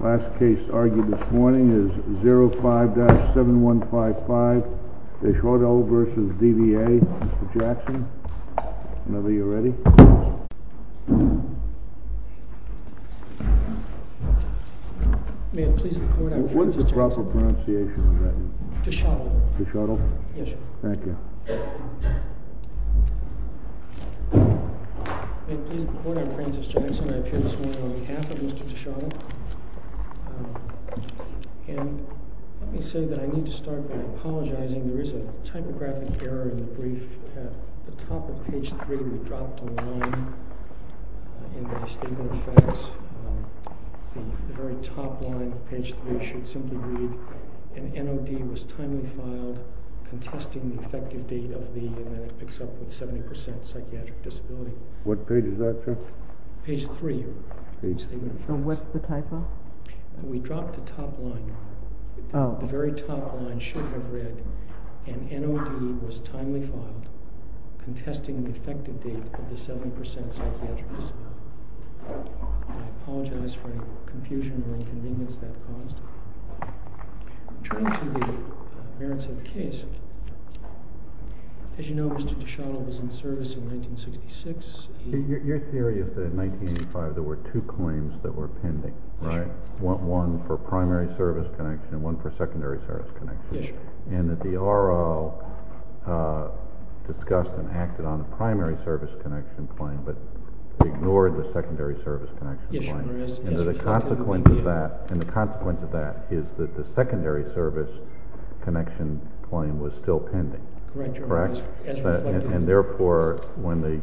Last case argued this morning is 05-7155 Deshotel v. DVA. Mr. Jackson, whenever you're ready. May it please the court, I'm Francis Jackson. What's the proper pronunciation of that? Deshotel. Deshotel? Yes, sir. Thank you. May it please the court, I'm Francis Jackson. I appear this morning on behalf of Mr. Deshotel. And let me say that I need to start by apologizing. There is a typographic error in the brief. At the top of page 3, we dropped a line in the distinguished facts. The very top line, page 3, should simply read, An NOD was timely filed, contesting the effective date of the, and then it picks up with 70% psychiatric disability. What page is that, sir? Page 3. So what's the typo? We dropped the top line. The very top line should have read, An NOD was timely filed, contesting the effective date of the 70% psychiatric disability. I apologize for any confusion or inconvenience that caused. Returning to the merits of the case, as you know, Mr. Deshotel was in service in 1966. Your theory is that in 1985 there were two claims that were pending, right? Yes, sir. One for primary service connection and one for secondary service connection. Yes, sir. And that the R.O. discussed and acted on a primary service connection claim, but ignored the secondary service connection claim. Yes, your Honor. And the consequence of that is that the secondary service connection claim was still pending. Correct, your Honor. And therefore, when they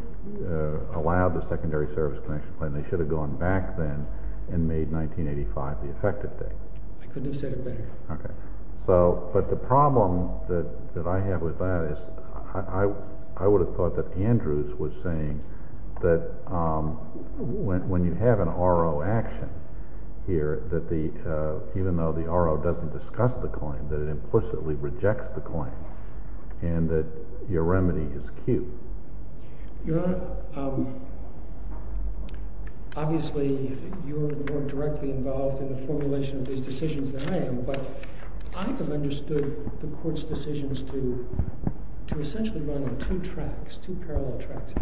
allowed the secondary service connection claim, they should have gone back then and made 1985 the effective date. I couldn't have said it better. Okay. But the problem that I have with that is I would have thought that Andrews was saying that when you have an R.O. action here, that even though the R.O. doesn't discuss the claim, that it implicitly rejects the claim and that your remedy is cute. Your Honor, obviously you're more directly involved in the formulation of these decisions than I am, but I have understood the court's decisions to essentially run on two tracks, two parallel tracks.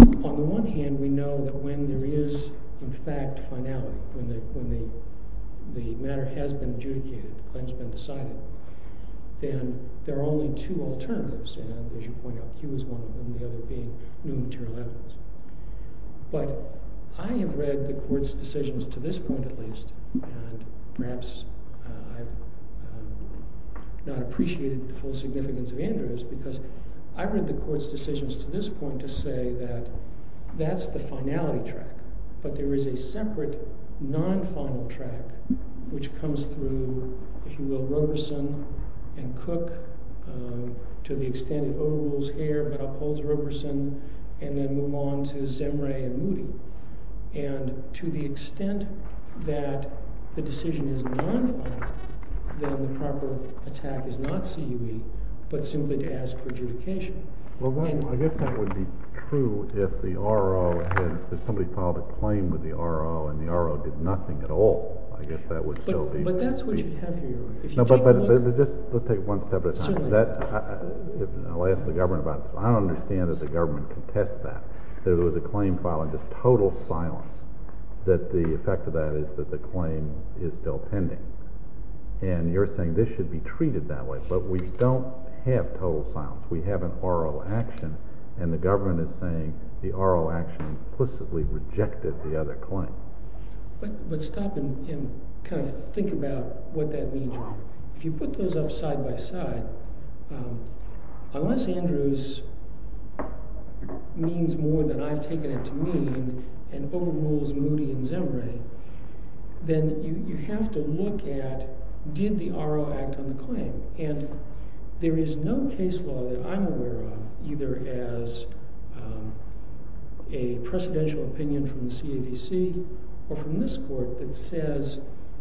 On the one hand, we know that when there is, in fact, finality, when the matter has been adjudicated, the claim has been decided, then there are only two alternatives. And as you point out, Q is one of them and the other being new material evidence. But I have read the court's decisions to this point at least and perhaps I've not appreciated the full significance of Andrews because I've read the court's decisions to this point to say that that's the finality track, but there is a separate non-final track which comes through, if you will, Roberson and Cook to the extent it overrules Hare but upholds Roberson and then move on to Zemre and Moody. And to the extent that the decision is non-final, then the proper attack is not CUE but simply to ask for adjudication. Well, I guess that would be true if somebody filed a claim with the R.O. and the R.O. did nothing at all. I guess that would still be true. But that's what you have here. No, but let's take it one step at a time. Certainly. I'll ask the government about it. I don't understand that the government can test that. There was a claim filed in just total silence that the effect of that is that the claim is still pending. And you're saying this should be treated that way. But we don't have total silence. We have an R.O. action, and the government is saying the R.O. action implicitly rejected the other claim. But stop and kind of think about what that means. If you put those up side by side, unless Andrews means more than I've taken it to mean and overrules Moody and Zembray, then you have to look at did the R.O. act on the claim. And there is no case law that I'm aware of, either as a precedential opinion from the CAVC or from this court, that says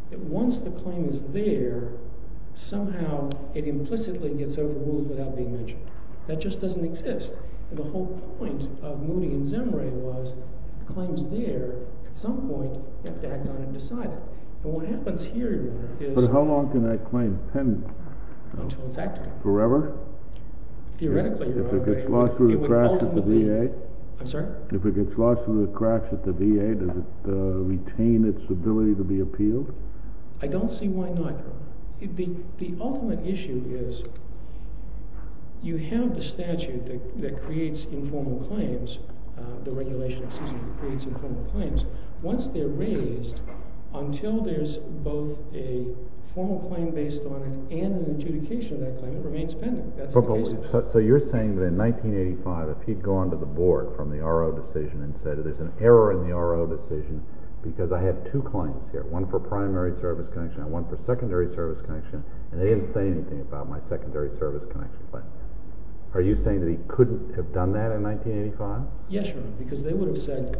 that once the claim is there, somehow it implicitly gets overruled without being mentioned. That just doesn't exist. The whole point of Moody and Zembray was the claim is there. At some point, you have to act on it and decide it. But what happens here is— But how long can that claim end? Until it's acted on. Forever? Theoretically, you're right. If it gets lost through the crash at the VA? I'm sorry? I don't see why not. The ultimate issue is you have the statute that creates informal claims, the regulation that creates informal claims. Once they're raised, until there's both a formal claim based on it and an adjudication of that claim, it remains pending. That's the case. So you're saying that in 1985, if he'd gone to the board from the R.O. decision and said, there's an error in the R.O. decision because I have two claims here, one for primary service connection and one for secondary service connection, and they didn't say anything about my secondary service connection claim. Are you saying that he couldn't have done that in 1985? Yes, Your Honor, because they would have said,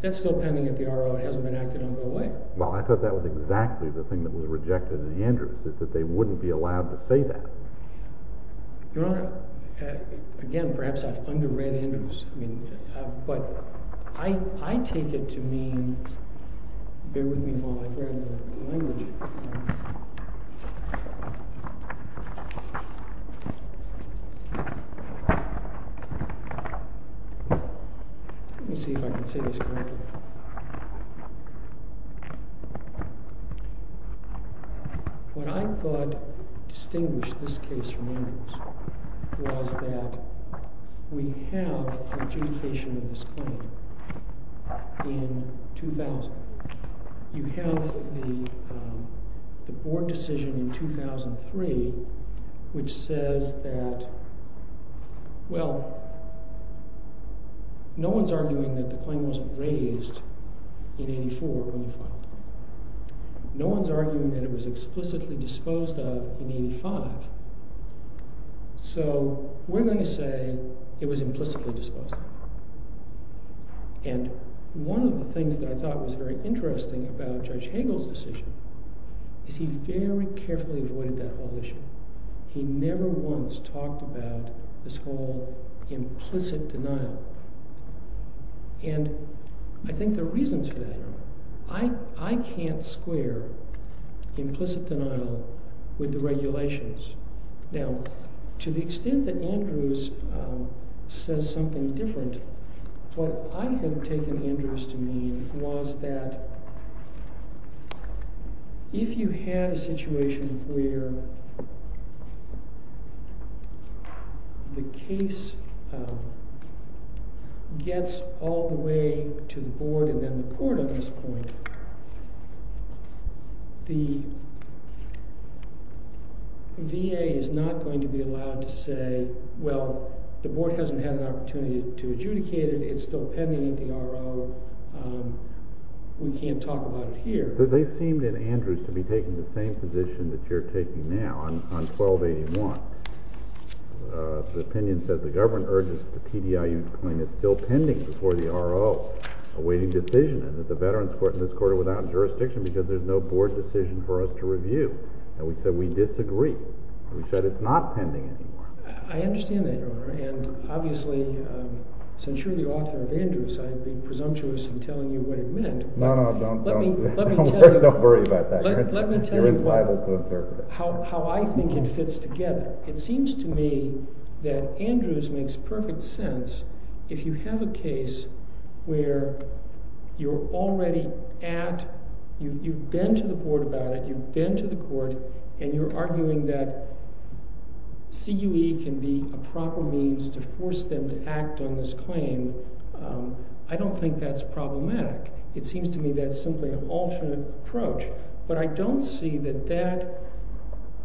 that's still pending at the R.O. It hasn't been acted on all the way. Well, I thought that was exactly the thing that was rejected in Andrews, is that they wouldn't be allowed to say that. Your Honor, again, perhaps I've underrated Andrews, but I take it to mean, bear with me while I read the language. Let me see if I can say this correctly. What I thought distinguished this case from Andrews was that we have an adjudication of this claim in 2000. You have the board decision in 2003, which says that, well, no one's arguing that the claim wasn't raised in 84 when we filed it. No one's arguing that it was explicitly disposed of in 85. So we're going to say it was implicitly disposed of. And one of the things that I thought was very interesting about Judge Hagel's decision is he very carefully avoided that whole issue. He never once talked about this whole implicit denial. And I think there are reasons for that, Your Honor. I can't square implicit denial with the regulations. Now, to the extent that Andrews says something different, what I had taken Andrews to mean was that if you had a situation where the case gets all the way to the board and then the court at this point, the VA is not going to be allowed to say, well, the board hasn't had an opportunity to adjudicate it. It's still pending at the RO. We can't talk about it here. But they seemed in Andrews to be taking the same position that you're taking now on 1281. The opinion says the government urges the PDIU to claim it's still pending before the RO. Awaiting decision. And there's a veterans court in this court without jurisdiction because there's no board decision for us to review. And we said we disagree. We said it's not pending anymore. I understand that, Your Honor. And obviously, since you're the author of Andrews, I'd be presumptuous in telling you what it meant. No, no. Don't worry about that. Let me tell you how I think it fits together. It seems to me that Andrews makes perfect sense if you have a case where you're already at, you've been to the board about it, you've been to the court, and you're arguing that CUE can be a proper means to force them to act on this claim. I don't think that's problematic. It seems to me that's simply an alternate approach. But I don't see that that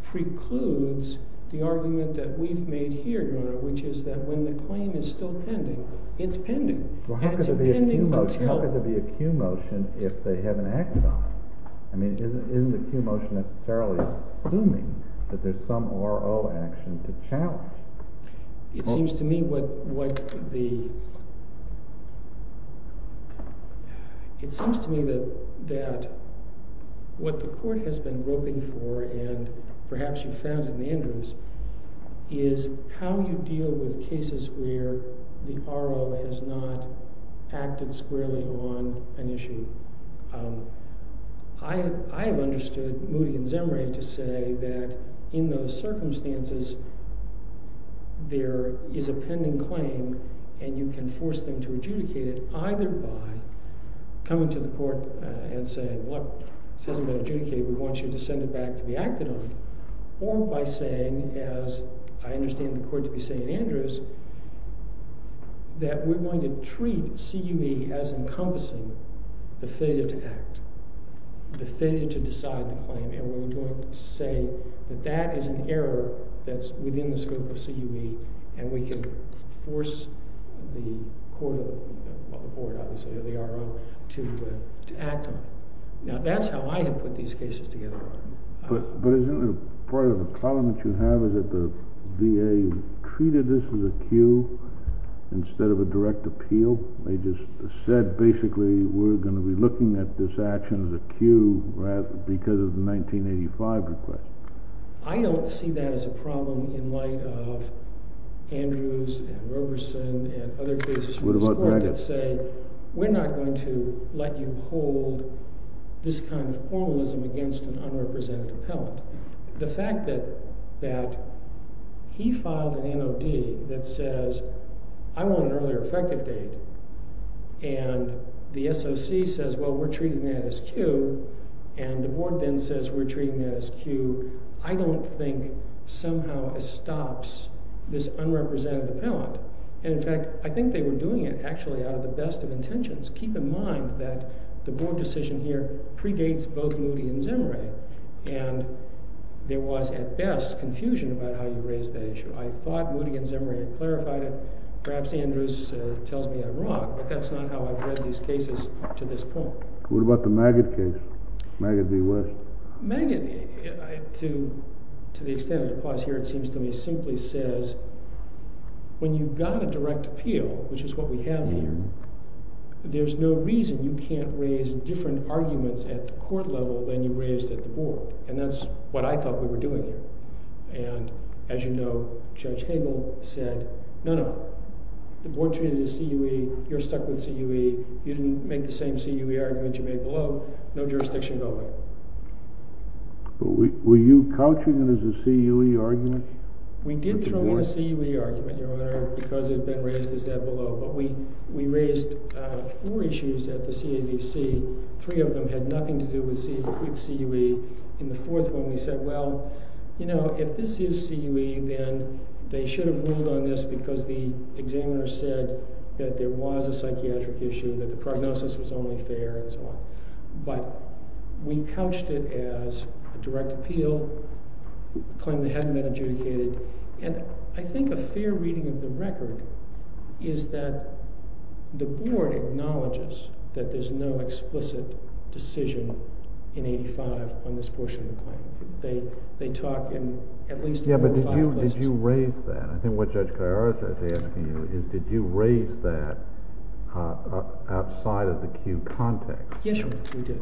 precludes the argument that we've made here, Your Honor, which is that when the claim is still pending, it's pending. Well, how could there be a CUE motion if they haven't acted on it? I mean, isn't the CUE motion necessarily assuming that there's some RO action to challenge? It seems to me that what the court has been roping for, and perhaps you've found in Andrews, is how you deal with cases where the RO has not acted squarely on an issue. I have understood Moody and Zemre to say that in those circumstances, there is a pending claim, and you can force them to adjudicate it either by coming to the court and saying, look, this hasn't been adjudicated. We want you to send it back to be acted on. Or by saying, as I understand the court to be saying in Andrews, that we're going to treat CUE as encompassing the failure to act, the failure to decide the claim. And we're going to say that that is an error that's within the scope of CUE, and we can force the RO to act on it. Now, that's how I have put these cases together. But isn't part of the problem that you have is that the VA treated this as a CUE instead of a direct appeal? They just said, basically, we're going to be looking at this action as a CUE because of the 1985 request. I don't see that as a problem in light of Andrews and Roberson and other cases in this court that say, we're not going to let you hold this kind of formalism against an unrepresented appellant. The fact that he filed an NOD that says, I want an earlier effective date. And the SOC says, well, we're treating that as CUE. And the board then says, we're treating that as CUE. I don't think somehow it stops this unrepresented appellant. And in fact, I think they were doing it actually out of the best of intentions. Keep in mind that the board decision here predates both Moody and Zemire. And there was, at best, confusion about how you raised that issue. I thought Moody and Zemire clarified it. Perhaps Andrews tells me I'm wrong, but that's not how I've read these cases to this point. What about the Maggott case, Maggott v. West? Maggott, to the extent it applies here, it seems to me, simply says when you've got a direct appeal, which is what we have here, there's no reason you can't raise different arguments at the court level than you raised at the board. And that's what I thought we were doing here. And as you know, Judge Hagel said, no, no. The board treated it as CUE. You're stuck with CUE. You didn't make the same CUE argument you made below. No jurisdiction at all. But were you couching it as a CUE argument? We did throw in a CUE argument, Your Honor, because it had been raised as that below. But we raised four issues at the CAVC. Three of them had nothing to do with CUE. In the fourth one, we said, well, you know, if this is CUE, then they should have ruled on this because the examiner said that there was a psychiatric issue, that the prognosis was only fair, and so on. But we couched it as a direct appeal, claimed it hadn't been adjudicated. And I think a fair reading of the record is that the board acknowledges that there's no explicit decision in 85 on this portion of the claim. They talk in at least four or five places. Yeah, but did you raise that? I think what Judge Callarosa is asking you is did you raise that outside of the CUE context? Yes, Your Honor, we did.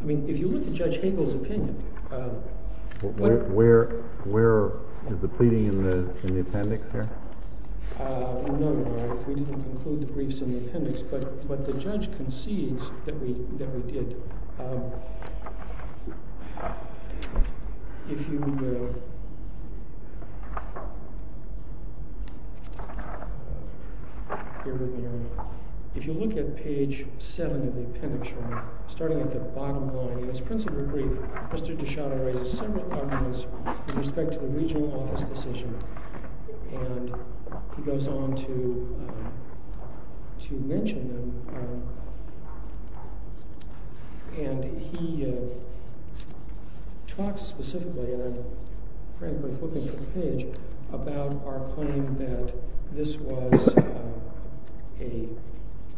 I mean, if you look at Judge Hagel's opinion. Where is the pleading in the appendix there? No, Your Honor, we didn't conclude the briefs in the appendix. But the judge concedes that we did. If you look at page seven of the appendix, starting at the bottom line, in his principal brief, Mr. DiShado raises several arguments with respect to the regional office decision. And he goes on to mention them. And he talks specifically, and I'm frankly flipping through the page, about our claim that this was a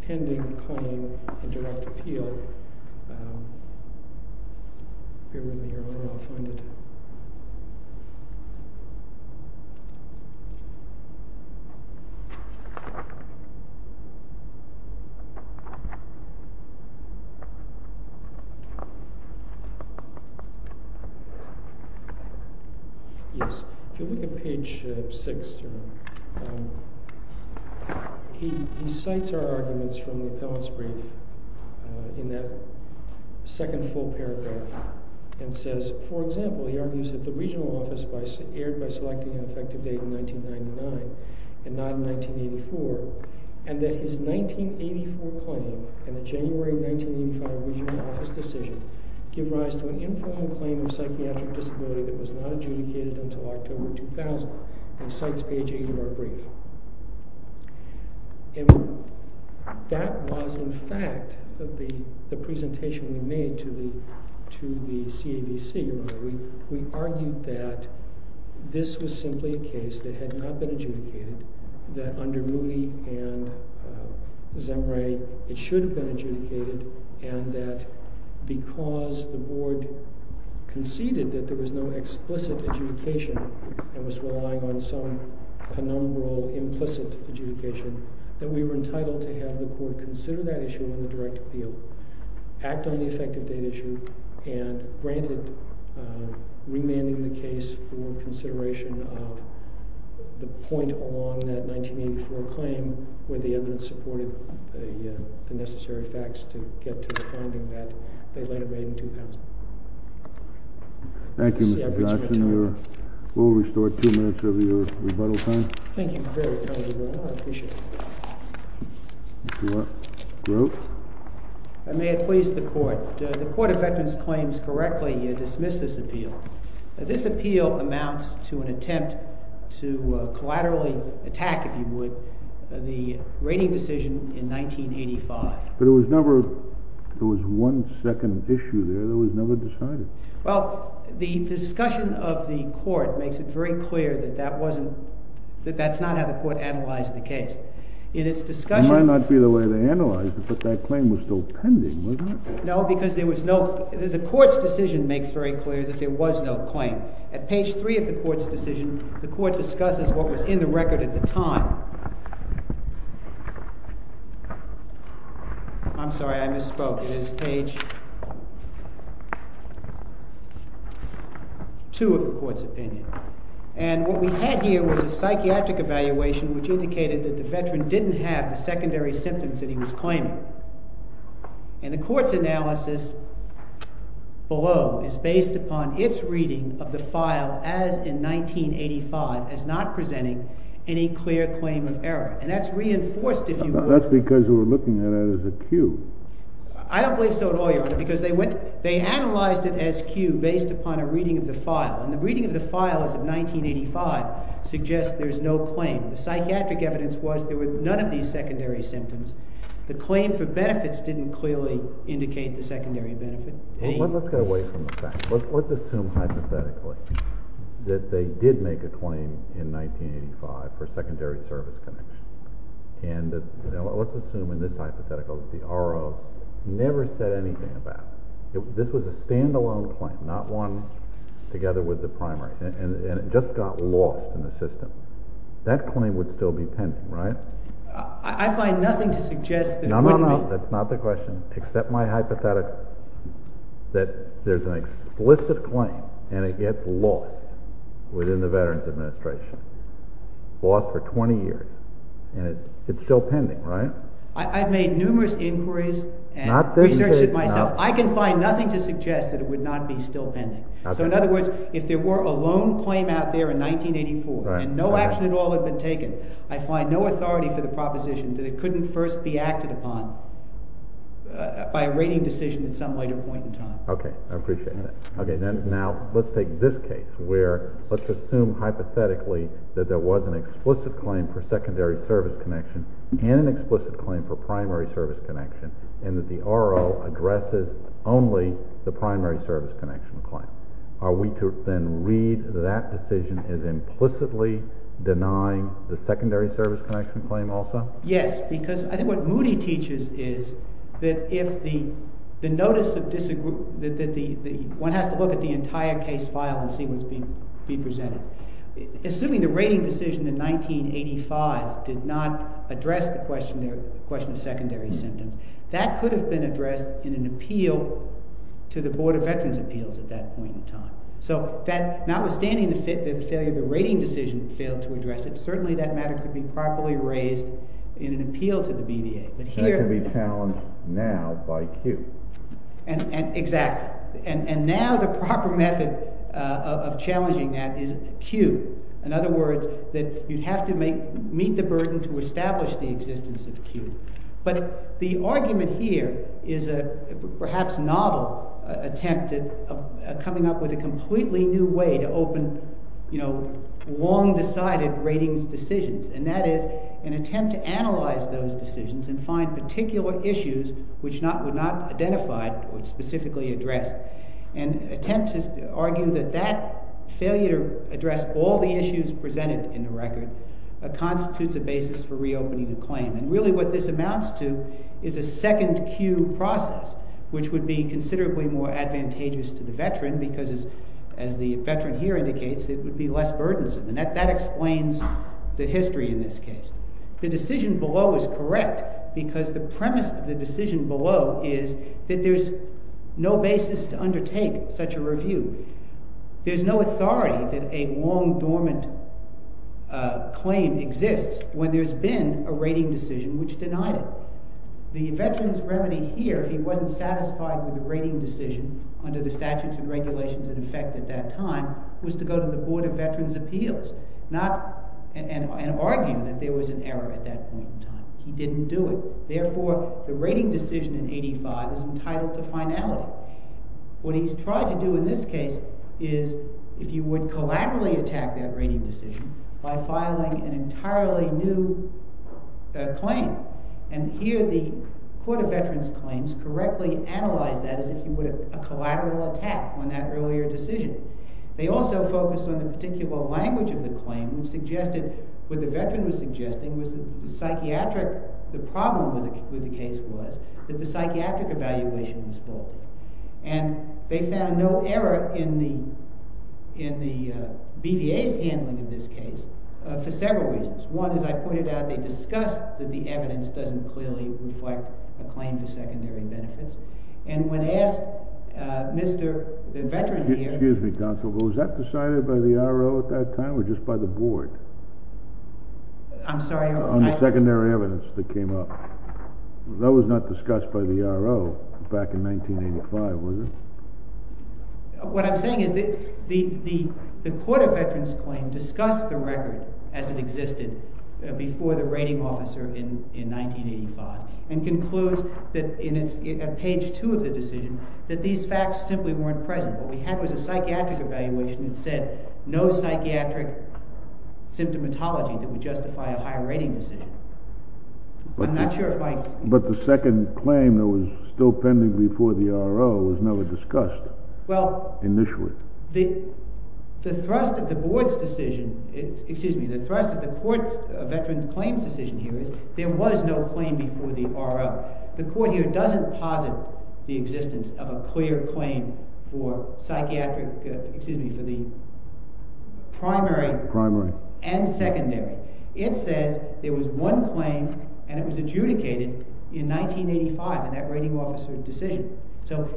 pending claim in direct appeal. If you look at page six, he cites our arguments from the appellant's brief. In that second full paragraph. And says, for example, he argues that the regional office was aired by selecting an effective date in 1999 and not in 1984. And that his 1984 claim and the January 1985 regional office decision give rise to an informal claim of psychiatric disability that was not adjudicated until October 2000. And cites page eight of our brief. And that was, in fact, the presentation we made to the CAVC. We argued that this was simply a case that had not been adjudicated. That under Moody and Zemre, it should have been adjudicated. And that because the board conceded that there was no explicit adjudication and was relying on some penumbral, implicit adjudication, that we were entitled to have the court consider that issue in the direct appeal. Act on the effective date issue. And granted remanding the case for consideration of the point along that 1984 claim where the evidence supported the necessary facts to get to the finding that they later made in 2000. Thank you, Mr. Johnson. We'll restore two minutes of your rebuttal time. Thank you. I appreciate it. May it please the court. The Court of Veterans Claims correctly dismissed this appeal. This appeal amounts to an attempt to collaterally attack, if you would, the rating decision in 1985. There was one second issue there that was never decided. Well, the discussion of the court makes it very clear that that's not how the court analyzed the case. It might not be the way they analyzed it, but that claim was still pending, wasn't it? No, because the court's decision makes very clear that there was no claim. At page three of the court's decision, the court discusses what was in the record at the time. I'm sorry, I misspoke. It is page two of the court's opinion. And what we had here was a psychiatric evaluation which indicated that the veteran didn't have the secondary symptoms that he was claiming. And the court's analysis below is based upon its reading of the file as in 1985 as not presenting any clear claim of error. And that's reinforced, if you will. That's because we're looking at it as a cue. I don't believe so at all, Your Honor, because they analyzed it as cue based upon a reading of the file. And the reading of the file as of 1985 suggests there's no claim. The psychiatric evidence was there were none of these secondary symptoms. The claim for benefits didn't clearly indicate the secondary benefit. Well, let's go away from the fact. Let's assume hypothetically that they did make a claim in 1985 for secondary service connection. And let's assume in this hypothetical that the RO never said anything about it. This was a stand-alone claim, not one together with the primary. And it just got lost in the system. That claim would still be pending, right? I find nothing to suggest that it wouldn't be. No, no, no. That's not the question. Accept my hypothetical that there's an explicit claim and it gets lost within the Veterans Administration, lost for 20 years. And it's still pending, right? I've made numerous inquiries and researched it myself. I can find nothing to suggest that it would not be still pending. So, in other words, if there were a lone claim out there in 1984 and no action at all had been taken, I find no authority for the proposition that it couldn't first be acted upon by a rating decision at some later point in time. Okay. I appreciate that. Okay. Now, let's take this case where let's assume hypothetically that there was an explicit claim for secondary service connection and an explicit claim for primary service connection and that the R.O. addresses only the primary service connection claim. Are we to then read that decision as implicitly denying the secondary service connection claim also? Yes, because I think what Moody teaches is that if the notice of disagree—one has to look at the entire case file and see what's being presented. Assuming the rating decision in 1985 did not address the question of secondary symptoms, that could have been addressed in an appeal to the Board of Veterans' Appeals at that point in time. So, notwithstanding the failure of the rating decision that failed to address it, certainly that matter could be properly raised in an appeal to the BVA. That could be challenged now by Q. Exactly. And now the proper method of challenging that is Q. In other words, that you'd have to meet the burden to establish the existence of Q. But the argument here is a perhaps novel attempt at coming up with a completely new way to open long-decided ratings decisions, and that is an attempt to analyze those decisions and find particular issues which were not identified or specifically addressed. An attempt to argue that that failure to address all the issues presented in the record constitutes a basis for reopening the claim. And really what this amounts to is a second Q process, which would be considerably more advantageous to the veteran because, as the veteran here indicates, it would be less burdensome. And that explains the history in this case. The decision below is correct because the premise of the decision below is that there's no basis to undertake such a review. There's no authority that a long, dormant claim exists when there's been a rating decision which denied it. The veteran's remedy here, if he wasn't satisfied with the rating decision under the statutes and regulations in effect at that time, was to go to the Board of Veterans' Appeals and argue that there was an error at that point in time. He didn't do it. Therefore, the rating decision in 85 is entitled to finality. What he's tried to do in this case is, if you would, collaterally attack that rating decision by filing an entirely new claim. And here the Court of Veterans' Claims correctly analyzed that as if you would have a collateral attack on that earlier decision. They also focused on the particular language of the claim and suggested what the veteran was suggesting was that the psychiatric— And they found no error in the BVA's handling of this case for several reasons. One, as I pointed out, they discussed that the evidence doesn't clearly reflect a claim for secondary benefits. And when asked, Mr.—the veteran here— Excuse me, counsel, but was that decided by the RO at that time or just by the board? I'm sorry— On the secondary evidence that came up. That was not discussed by the RO back in 1985, was it? What I'm saying is that the Court of Veterans' Claims discussed the record as it existed before the rating officer in 1985 and concludes that in page 2 of the decision that these facts simply weren't present. What we had was a psychiatric evaluation that said no psychiatric symptomatology that would justify a higher rating decision. I'm not sure if I— But the second claim that was still pending before the RO was never discussed initially. Well, the thrust of the board's decision—excuse me, the thrust of the Court of Veterans' Claims' decision here is there was no claim before the RO. The Court here doesn't posit the existence of a clear claim for psychiatric—excuse me, for the primary and secondary. It says there was one claim, and it was adjudicated in 1985 in that rating officer's decision. So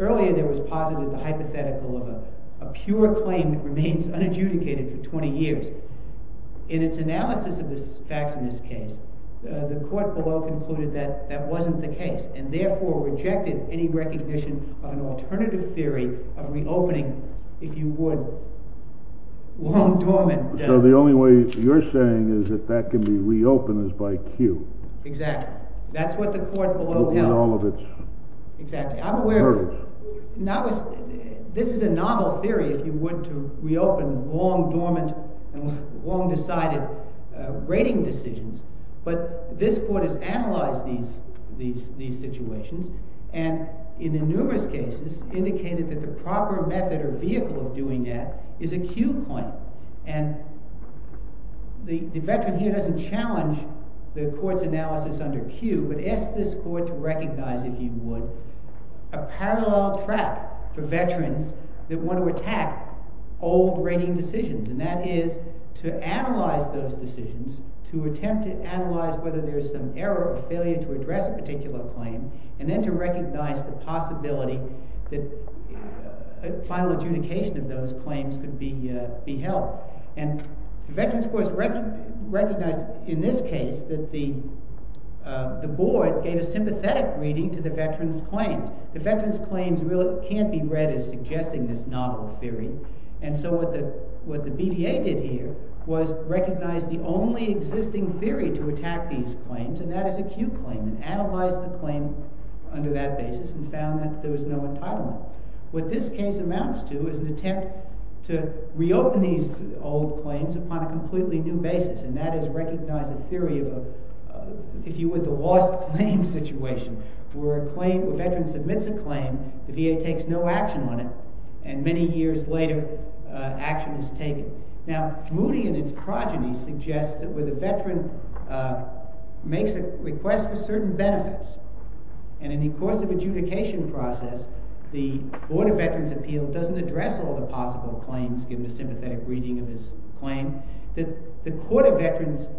earlier there was posited the hypothetical of a pure claim that remains unadjudicated for 20 years. In its analysis of the facts in this case, the court below concluded that that wasn't the case and therefore rejected any recognition of an alternative theory of reopening, if you would, long-dormant— So the only way you're saying is that that can be reopened is by cue. Exactly. That's what the court below held. In all of its hurdles. Exactly. I'm aware—this is a novel theory, if you would, to reopen long-dormant and long-decided rating decisions. But this court has analyzed these situations and in numerous cases indicated that the proper method or vehicle of doing that is a cue point. And the veteran here doesn't challenge the court's analysis under cue, but asks this court to recognize, if you would, a parallel track for veterans that want to attack old rating decisions. And that is to analyze those decisions, to attempt to analyze whether there's some error or failure to address a particular claim, and then to recognize the possibility that a final adjudication of those claims could be held. And the veterans, of course, recognized in this case that the board gave a sympathetic reading to the veterans' claims. The veterans' claims really can't be read as suggesting this novel theory. And so what the BDA did here was recognize the only existing theory to attack these claims, and that is a cue claim. And it analyzed the claim under that basis and found that there was no entitlement. What this case amounts to is an attempt to reopen these old claims upon a completely new basis, and that is recognize the theory of, if you would, the lost claim situation, where a claim—a veteran submits a claim, the BDA takes no action on it, and many years later, action is taken. Now, Moody, in its progeny, suggests that where the veteran makes a request for certain benefits, and in the course of adjudication process, the Board of Veterans' Appeals doesn't address all the possible claims, given the sympathetic reading of his claim, that the veterans'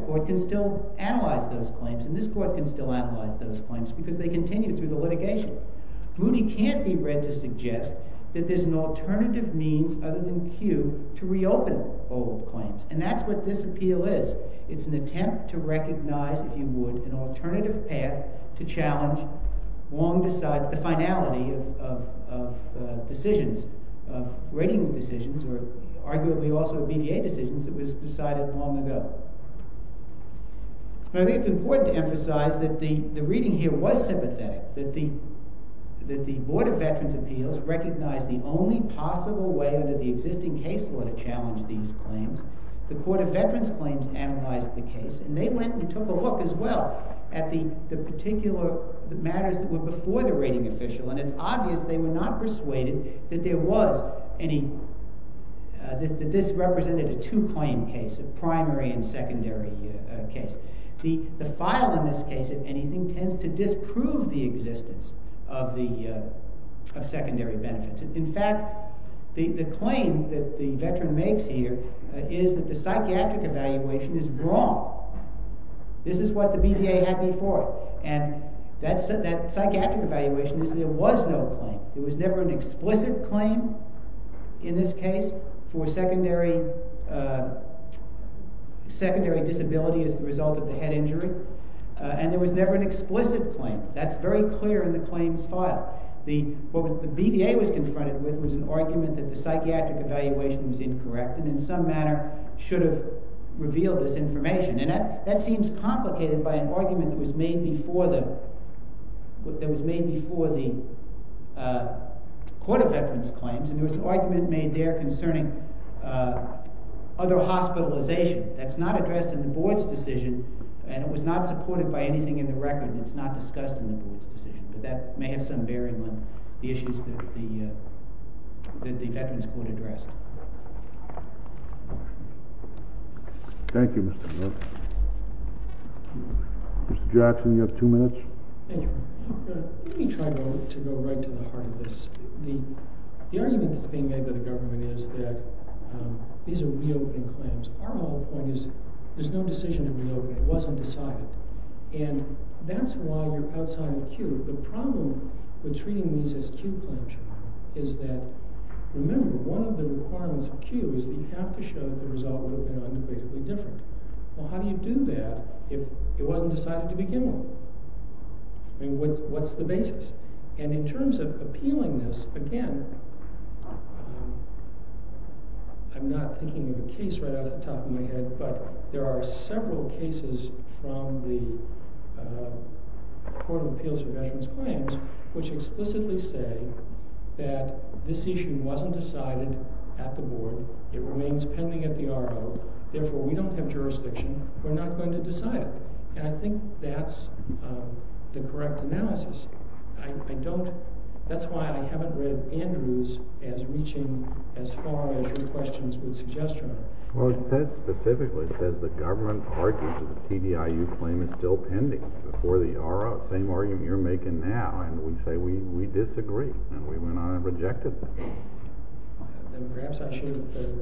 court can still analyze those claims, and this court can still analyze those claims because they continue through the litigation. Moody can't be read to suggest that there's an alternative means other than cue to reopen old claims, and that's what this appeal is. It's an attempt to recognize, if you would, an alternative path to challenge the finality of decisions, of rating decisions, or arguably also BDA decisions that was decided long ago. I think it's important to emphasize that the reading here was sympathetic, that the Board of Veterans' Appeals recognized the only possible way under the existing case law to challenge these claims. The Court of Veterans' Claims analyzed the case, and they went and took a look as well at the particular matters that were before the rating official, and it's obvious they were not persuaded that this represented a two-claim case, a primary and secondary case. The file in this case, if anything, tends to disprove the existence of secondary benefits. In fact, the claim that the veteran makes here is that the psychiatric evaluation is wrong. This is what the BDA had before it, and that psychiatric evaluation is there was no claim. There was never an explicit claim in this case for secondary disability as a result of the head injury, and there was never an explicit claim. That's very clear in the claims file. What the BDA was confronted with was an argument that the psychiatric evaluation was incorrect, and in some manner should have revealed this information. And that seems complicated by an argument that was made before the Court of Veterans' Claims, and there was an argument made there concerning other hospitalization. That's not addressed in the Board's decision, and it was not supported by anything in the record, and it's not discussed in the Board's decision. But that may have some bearing on the issues that the veterans court addressed. Thank you, Mr. Miller. Mr. Jackson, you have two minutes. Thank you. Let me try to go right to the heart of this. The argument that's being made by the government is that these are reopen claims. Our whole point is there's no decision to reopen. It wasn't decided. And that's why you're outside of the queue. The problem with treating these as queue claims is that, remember, one of the requirements of queue is that you have to show the result would have been unequivocally different. Well, how do you do that if it wasn't decided to begin with? I mean, what's the basis? And in terms of appealing this, again, I'm not thinking of a case right off the top of my head, but there are several cases from the Court of Appeals for Veterans Claims which explicitly say that this issue wasn't decided at the Board. It remains pending at the RO. Therefore, we don't have jurisdiction. We're not going to decide it. And I think that's the correct analysis. I don't – that's why I haven't read Andrews as reaching as far as your questions would suggest. Well, it says specifically, it says the government argues that the TDIU claim is still pending before the RO, the same argument you're making now. And we say we disagree. And we went on and rejected it. Perhaps I should have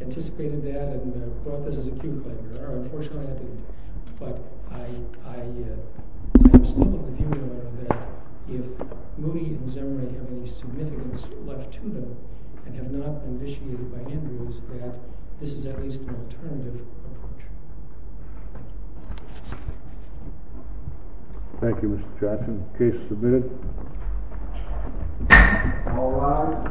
anticipated that and brought this as a queue claim. Unfortunately, I didn't. But I am still of the view that if Moody and Zemre have any significance left to them and have not been initiated by Andrews, that this is at least an alternative approach. Thank you, Mr. Jackson. Case submitted. All rise.